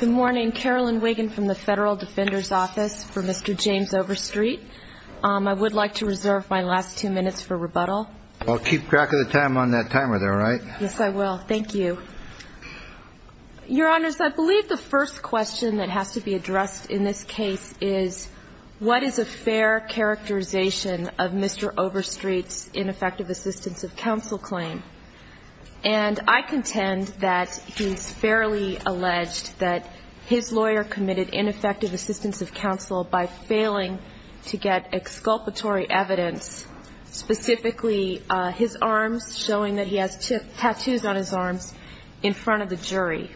Good morning. Carolyn Wiggin from the Federal Defender's Office for Mr. James Overstreet. I would like to reserve my last two minutes for rebuttal. I'll keep track of the time on that timer there, all right? Yes, I will. Thank you. Your Honors, I believe the first question that has to be addressed in this case is what is a fair characterization of Mr. Overstreet's ineffective assistance of counsel by failing to get exculpatory evidence, specifically his arms, showing that he has tattoos on his arms in front of the jury.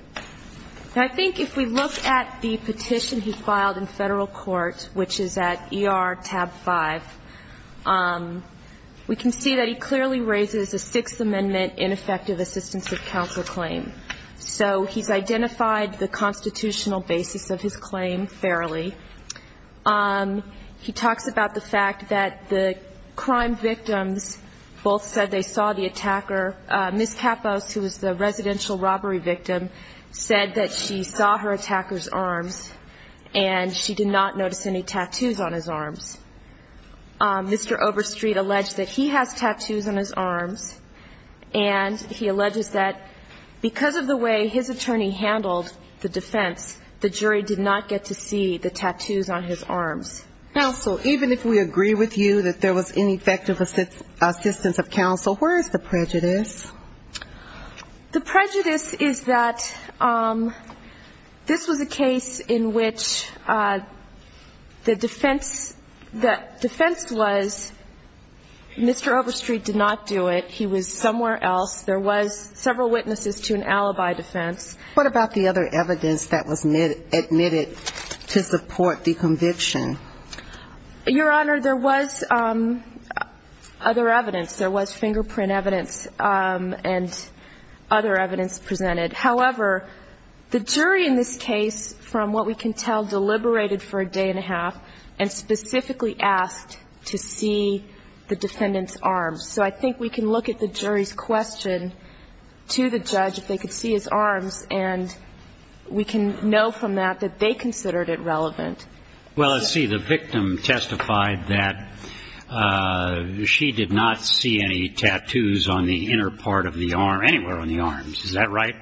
And I think if we look at the petition he filed in federal court, which is at ER tab 5, we can see that he clearly raises a Sixth Amendment ineffective assistance of counsel claim. So he's identified the constitutional basis of his claim fairly. He talks about the fact that the crime victims both said they saw the attacker. Ms. Capos, who is the residential robbery victim, said that she saw her attacker's arms and she did not notice any tattoos on his arms. Mr. Overstreet alleged that he has tattoos on his arms, but the jury did not get to see the tattoos on his arms. Counsel, even if we agree with you that there was ineffective assistance of counsel, where is the prejudice? The prejudice is that this was a case in which the defense was Mr. Overstreet did not do it. He was somewhere else. There was several witnesses to an investigation, but the jury did not get to see the defendant's arms. What about the other evidence that was admitted to support the conviction? Your Honor, there was other evidence. There was fingerprint evidence and other evidence presented. However, the jury in this case, from what we can tell, deliberated for a day and a half and specifically asked to see the defendant's arms. And we can know from that that they considered it relevant. Well, let's see, the victim testified that she did not see any tattoos on the inner part of the arm, anywhere on the arms. Is that right?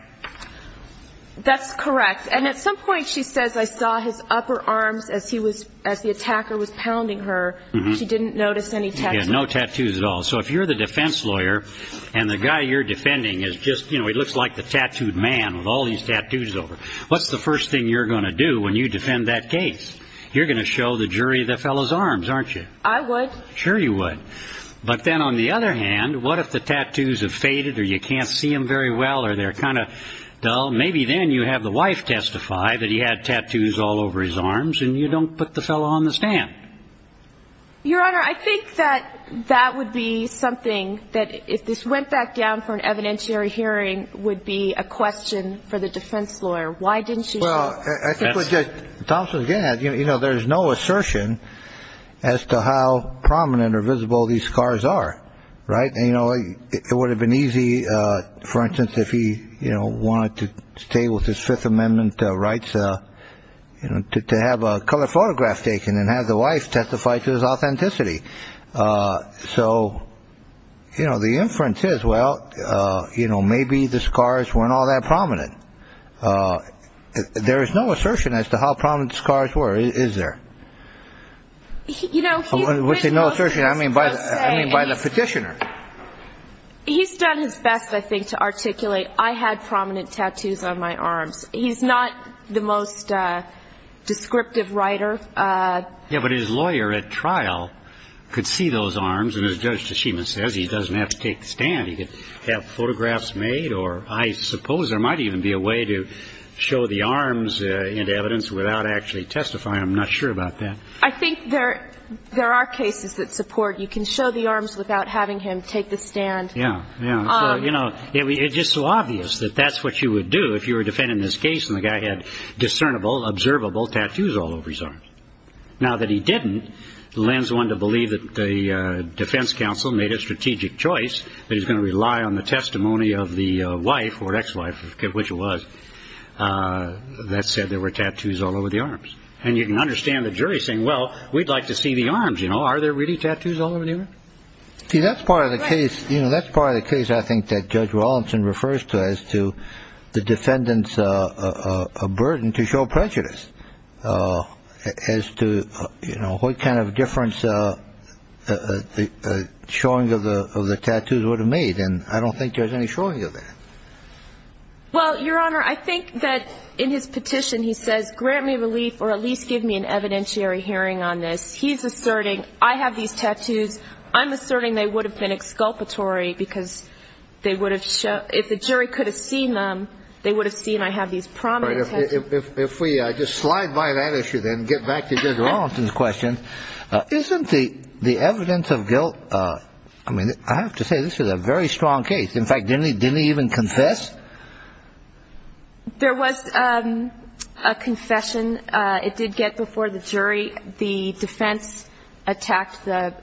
That's correct. And at some point she says, I saw his upper arms as he was, as the attacker was pounding her. She didn't notice any tattoos. Yeah, no tattoos at all. So if you're the defense lawyer and the guy you're defending, you're going to show the jury the fellow's arms, aren't you? I would. Sure you would. But then on the other hand, what if the tattoos have faded or you can't see them very well or they're kind of dull? Maybe then you have the wife testify that he had tattoos all over his arms and you don't put the fellow on the stand. Your Honor, I think that that would be something that, if this went back down for an evidentiary hearing, would be a question for the jury. Well, I think what Thompson's getting at, you know, there's no assertion as to how prominent or visible these scars are. Right? You know, it would have been easy, for instance, if he wanted to stay with his Fifth Amendment rights, you know, to have a colored photograph taken and have the wife testify to his authenticity. So, you know, the inference is, well, you know, maybe the scars weren't all that prominent. There is no assertion as to how prominent the scars were, is there? You know, he's been most... By the petitioner. He's done his best, I think, to articulate, I had prominent tattoos on my arms. He's not the most descriptive writer. Yeah, but his lawyer at trial could see those arms. And as Judge Tashima says, he doesn't have to take the stand. He could have photographs made or I suppose there might even be a way to show the arms in evidence without actually testifying. I'm not sure about that. I think there are cases that support you can show the arms without having him take the stand. Yeah, yeah. So, you know, it's just so obvious that that's what you would do if you were defending this case and the guy had discernible, observable tattoos all over his arms. Now that he didn't, lends one to believe that the defense counsel made a statement that said there were tattoos all over the arms. And you can understand the jury saying, well, we'd like to see the arms. You know, are there really tattoos all over the arms? See, that's part of the case. You know, that's part of the case, I think, that Judge Wallinson refers to as to the defendant's burden to show prejudice. As to, you know, what kind of difference the showing of the tattoos would have made. And I don't think there's any showing of that. Well, Your Honor, I think that in his petition, he says, grant me relief or at least give me an evidentiary hearing on this. He's asserting, I have these tattoos. I'm asserting they would have been exculpatory because they would have shown if the jury could have seen them, they would have seen I have these prominent tattoos. If we just slide by that issue, then get back to Judge Wallinson's question. Isn't the evidence of guilt I mean, I have to say, this is a very strong case. In fact, didn't he even confess? There was a confession. It did get before the jury. The defense attacked the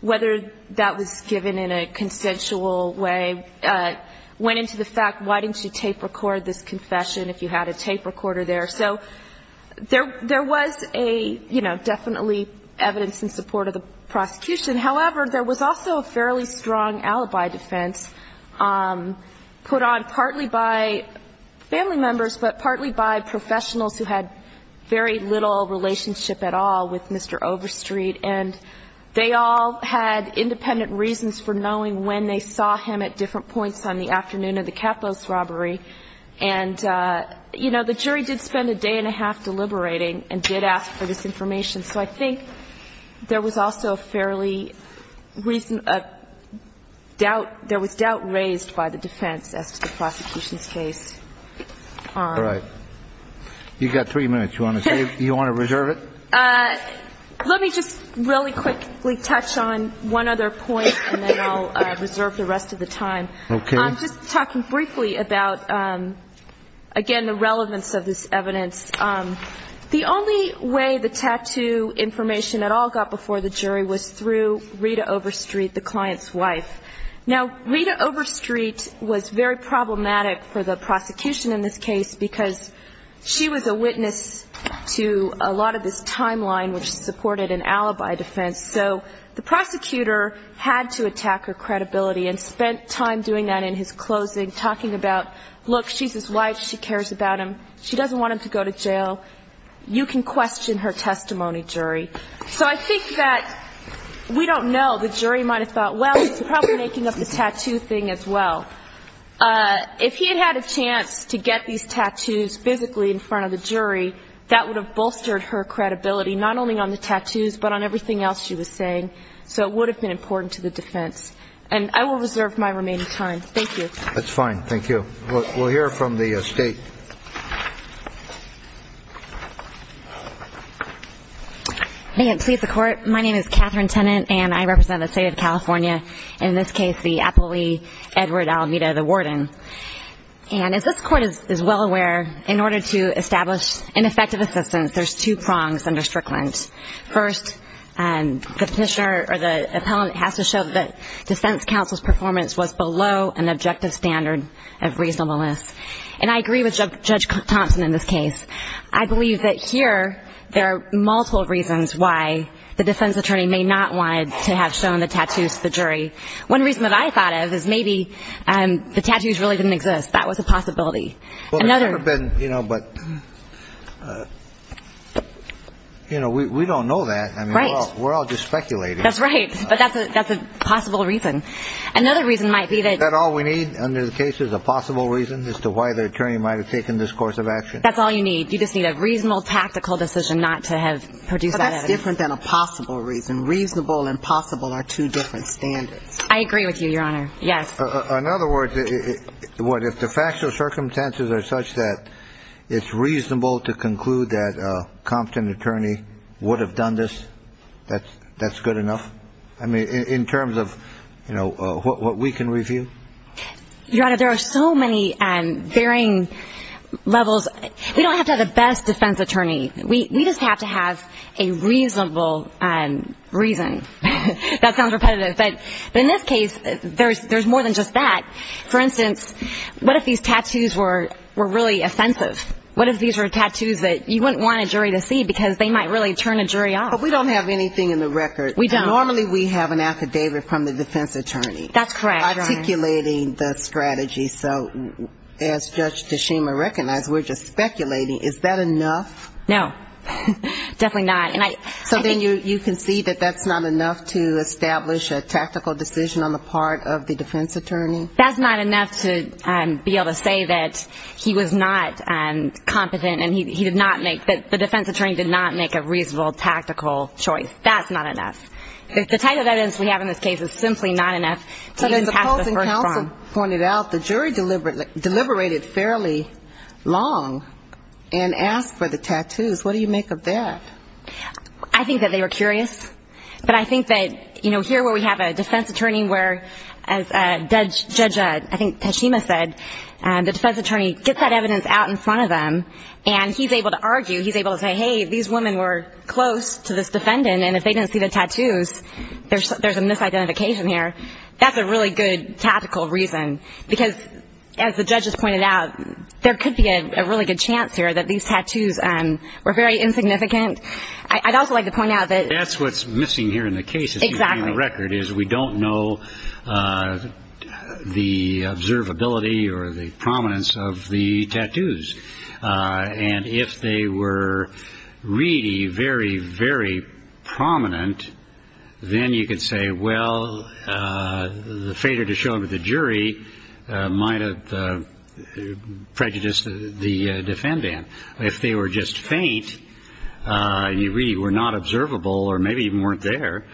whether that was given in a consensual way. Went into the fact, why didn't you tape record this confession if you had a tape recorder there? So there was a definitely evidence in support of the prosecution. However, there was also a fairly strong alibi defense put on partly by family members, but partly by professionals who had very little relationship at all with Mr. Overstreet. And they all had independent reasons for knowing when they saw him at different points on the afternoon of the Capos robbery. And, you know, the jury did spend a day and a half deliberating and did ask for this information. So I think there was also a fairly doubt raised by the defense as to the prosecution's case. Right. You've got three minutes. Do you want to reserve it? Let me just really quickly touch on one other point, and then I'll reserve the rest of the time. Okay. I'm just talking briefly about, again, the relevance of this evidence. The only way the tattoo information at all got before the jury was through Rita Overstreet, the client's wife. Now, Rita Overstreet was very problematic for the prosecution in this case because she was a witness to a lot of this timeline which supported an alibi defense. So the prosecutor had to attack her credibility and spent time doing that in his closing, talking about, look, she's his wife. She cares about him. She doesn't want him to go to jail. You can question her testimony, jury. So I think that we don't know. The jury might have thought, well, he's probably making up the tattoo thing as well. If he had had a chance to get these tattoos physically in front of the jury, that would have bolstered her credibility, not only on the tattoos, but on everything else she was saying. So it would have been important to the defense. And I will reserve my remaining time. Thank you. That's fine. Thank you. We'll hear from the State. May it please the Court. My name is Catherine Tennant, and I represent the State of California, in this case the appellee Edward Almeda, the warden. And as this Court is well aware, in order to establish an effective assistance, there's two prongs under Strickland. First, the petitioner or the appellant has to show that the defense counsel's performance was below an objective standard of reasonableness. And I agree with Judge Thompson in this case. I believe that here there are multiple reasons why the defense attorney may not want to have shown the tattoos to the jury. One reason that I thought of is maybe the tattoos really didn't exist. That was a possibility. Well, there's never been, you know, but... You know, we don't know that. Right. I mean, we're all just speculating. That's right. But that's a possible reason. Another reason might be that... Is that all we need under the case is a possible reason as to why the attorney might have taken this course of action? That's all you need. You just need a reasonable, tactical decision not to have produced that evidence. But that's different than a possible reason. Reasonable and possible are two different standards. I agree with you, Your Honor. Yes. In other words, what, if the factual circumstances are such that it's reasonable to conclude that a competent attorney would have done this, that's good enough? I mean, in terms of, you know, what we can review? Your Honor, there are so many varying levels. We don't have to have the best defense attorney. We just have to have a reasonable reason. That sounds repetitive. But in this case, there's more than just that. For instance, what if these tattoos were really offensive? What if these were tattoos that you wouldn't want a jury to see because they might really turn a jury off? But we don't have anything in the record. We don't. Normally we have an affidavit from the defense attorney. That's correct, Your Honor. Articulating the strategy. So as Judge Tshima recognized, we're just speculating. Is that enough? No. Definitely not. So then you can see that that's not enough to establish a tactical decision on the part of the defense attorney? That's not enough to be able to say that he was not competent and he did not make the defense attorney did not make a reasonable tactical choice. That's not enough. The type of evidence we have in this case is simply not enough. As the opposing counsel pointed out, the jury deliberated fairly long and asked for the tattoos. What do you make of that? I think that they were curious. But I think that here where we have a defense attorney where, as Judge Tshima said, the defense attorney gets that evidence out in front of them and he's able to argue. He's able to say, hey, these women were close to this defendant, and if they didn't see the tattoos, there's a misidentification here. That's a really good tactical reason. Because as the judges pointed out, there could be a really good chance here that these tattoos were very insignificant. I'd also like to point out that... That's what's missing here in the case, if you read the record, is we don't know the observability or the prominence of the tattoos. And if they were really very, very prominent, then you could say, well, the failure to show them to the jury might have prejudiced the defendant. If they were just faint and you really were not observable or maybe even weren't there,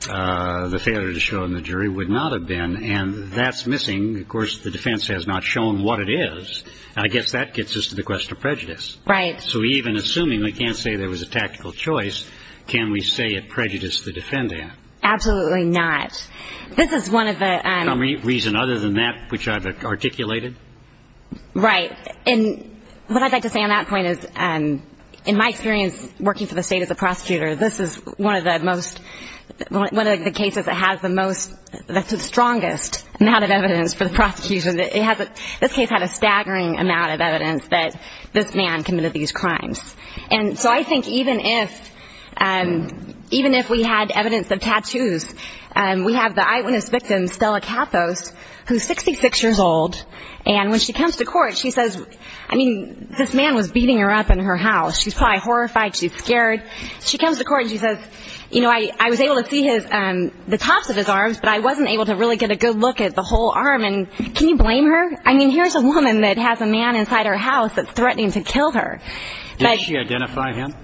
the failure to show them to the jury would not have been. And that's missing. Of course, the defense has not shown what it is. I guess that gets us to the question of prejudice. Right. So even assuming we can't say there was a tactical choice, can we say it prejudiced the defendant? Absolutely not. This is one of the... For some reason other than that, which I've articulated. Right. And what I'd like to say on that point is, in my experience working for the state as a prosecutor, this is one of the cases that has the strongest amount of evidence for the prosecution. This case had a staggering amount of evidence that this man committed these crimes. And so I think even if we had evidence of tattoos, we have the eyewitness victim, Stella Kappos, who's 66 years old. And when she comes to court, she says, I mean, this man was beating her up in her house. She's probably horrified. She's scared. She comes to court and she says, you know, I was able to see the tops of his arms, but I wasn't able to really get a good look at the whole arm. And can you blame her? I mean, here's a woman that has a man inside her house that's threatening to kill her. Did she identify him?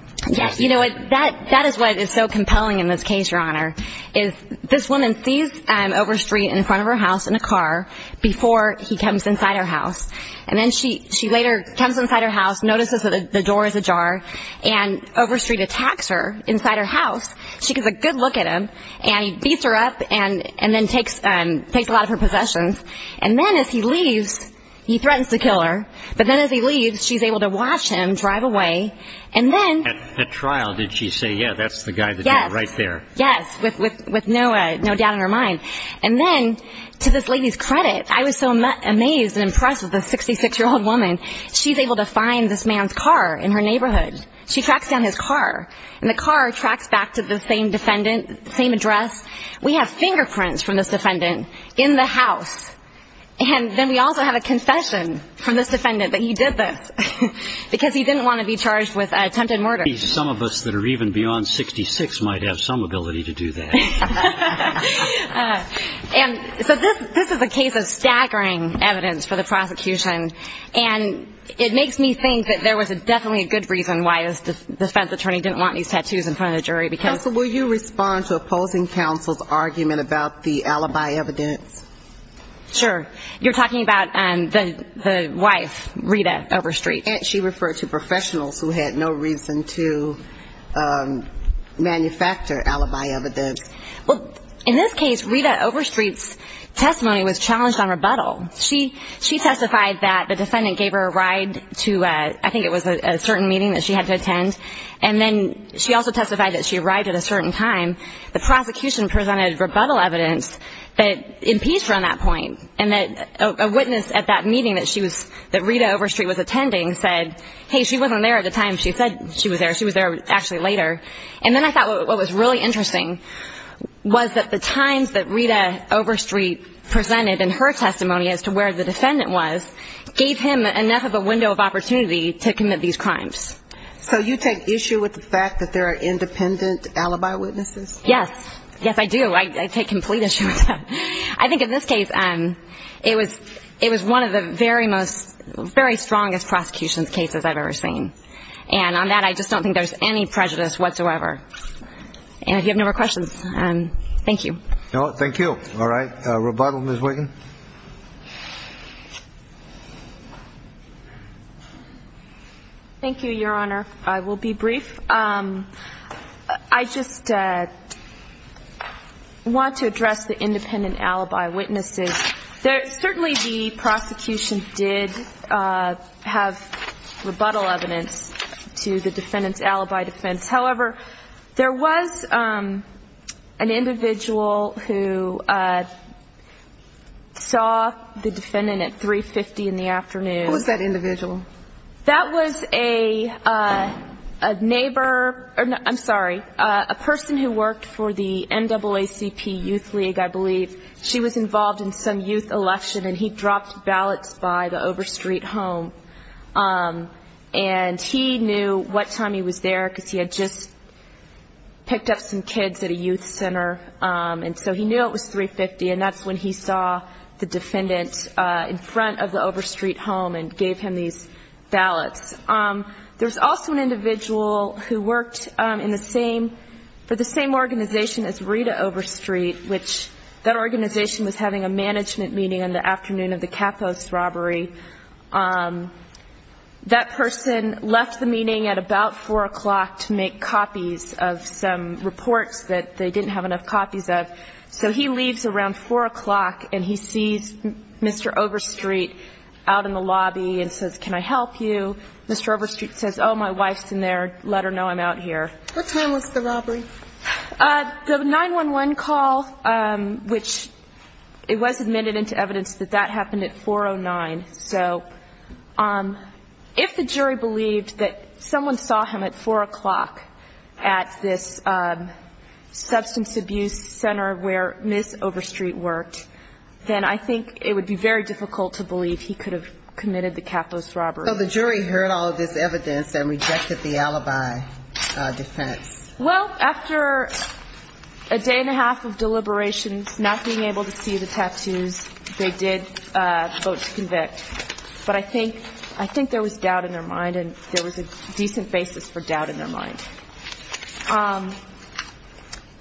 You know what? That is what is so compelling in this case, Your Honor, is this woman sees Overstreet in front of her house in a car before he comes inside her house. And then she later comes inside her house, notices that the door is ajar, and Overstreet attacks her inside her house. She gets a good look at him and he beats her up and then takes a lot of her possessions. And then as he leaves, he threatens to kill her. But then as he leaves, she's able to watch him drive away. At trial, did she say, yeah, that's the guy that did it right there? Yes, with no doubt in her mind. And then, to this lady's credit, I was so amazed and impressed with this 66-year-old woman. She's able to find this man's car in her neighborhood. She tracks down his car, and the car tracks back to the same defendant, the same address. We have fingerprints from this defendant in the house. And then we also have a confession from this defendant that he did this because he didn't want to be charged with attempted murder. Some of us that are even beyond 66 might have some ability to do that. And so this is a case of staggering evidence for the prosecution. And it makes me think that there was definitely a good reason why this defense attorney didn't want these tattoos in front of the jury. Counsel, will you respond to opposing counsel's argument about the alibi evidence? Sure. You're talking about the wife, Rita Overstreet. And she referred to professionals who had no reason to manufacture alibi evidence. Well, in this case, Rita Overstreet's testimony was challenged on rebuttal. She testified that the defendant gave her a ride to, I think it was a certain meeting that she had to attend. And then she also testified that she arrived at a certain time. The prosecution presented rebuttal evidence that impeached her on that point, and that a witness at that meeting that she was ñ that Rita Overstreet was attending said, hey, she wasn't there at the time she said she was there. She was there actually later. And then I thought what was really interesting was that the times that Rita Overstreet presented in her testimony as to where the defendant was gave him enough of a window of opportunity to commit these crimes. So you take issue with the fact that there are independent alibi witnesses? Yes. Yes, I do. I take complete issue with that. I think in this case, it was one of the very most ñ very strongest prosecution cases I've ever seen. And on that, I just don't think there's any prejudice whatsoever. And if you have no more questions, thank you. No, thank you. All right. Rebuttal, Ms. Wiggin. Thank you, Your Honor. I will be brief. I just want to address the independent alibi witnesses. Certainly the prosecution did have rebuttal evidence to the defendant's alibi defense. However, there was an individual who saw the defendant at 3.50 in the afternoon. Who was that individual? That was a neighbor ñ I'm sorry, a person who worked for the NAACP Youth League, I believe. She was involved in some youth election, and he dropped ballots by the Overstreet home. And he knew what time he was there, because he had just picked up some kids at a youth center. And so he knew it was 3.50, and that's when he saw the defendant in front of the Overstreet home and gave him these ballots. There was also an individual who worked in the same ñ for the same organization as Rita Overstreet, which that organization was having a management meeting in the afternoon of the Capos robbery. That person left the meeting at about 4 o'clock to make copies of some reports that they didn't have enough copies of. So he leaves around 4 o'clock, and he sees Mr. Overstreet out in the lobby and says, ìCan I help you?î Mr. Overstreet says, ìOh, my wife's in there. Let her know I'm out here.î What time was the robbery? The 9-1-1 call, which it was admitted into evidence that that happened at 4-0-9. So if the jury believed that someone saw him at 4 o'clock at this substance abuse center where Ms. Overstreet worked, then I think it would be very difficult to believe he could have committed the Capos robbery. So the jury heard all of this evidence and rejected the alibi defense? Well, after a day and a half of deliberations, not being able to see the tattoos, they did vote to convict. But I think there was doubt in their mind, and there was a decent basis for doubt in their mind.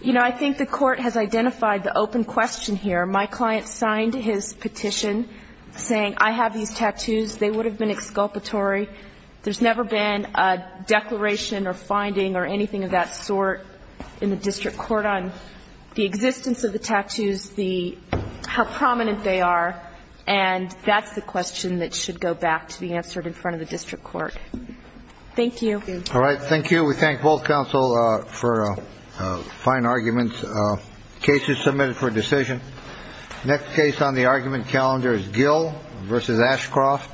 You know, I think the court has identified the open question here. My client signed his petition saying, ìI have these tattoos. They would have been exculpatory.î So I think it's very difficult to just sort in the district court on the existence of the tattoos, how prominent they are. And that's the question that should go back to be answered in front of the district court. Thank you. All right. Thank you. We thank both counsel for fine arguments. The case is submitted for decision. Next case on the argument calendar is Gill versus Ashcroft.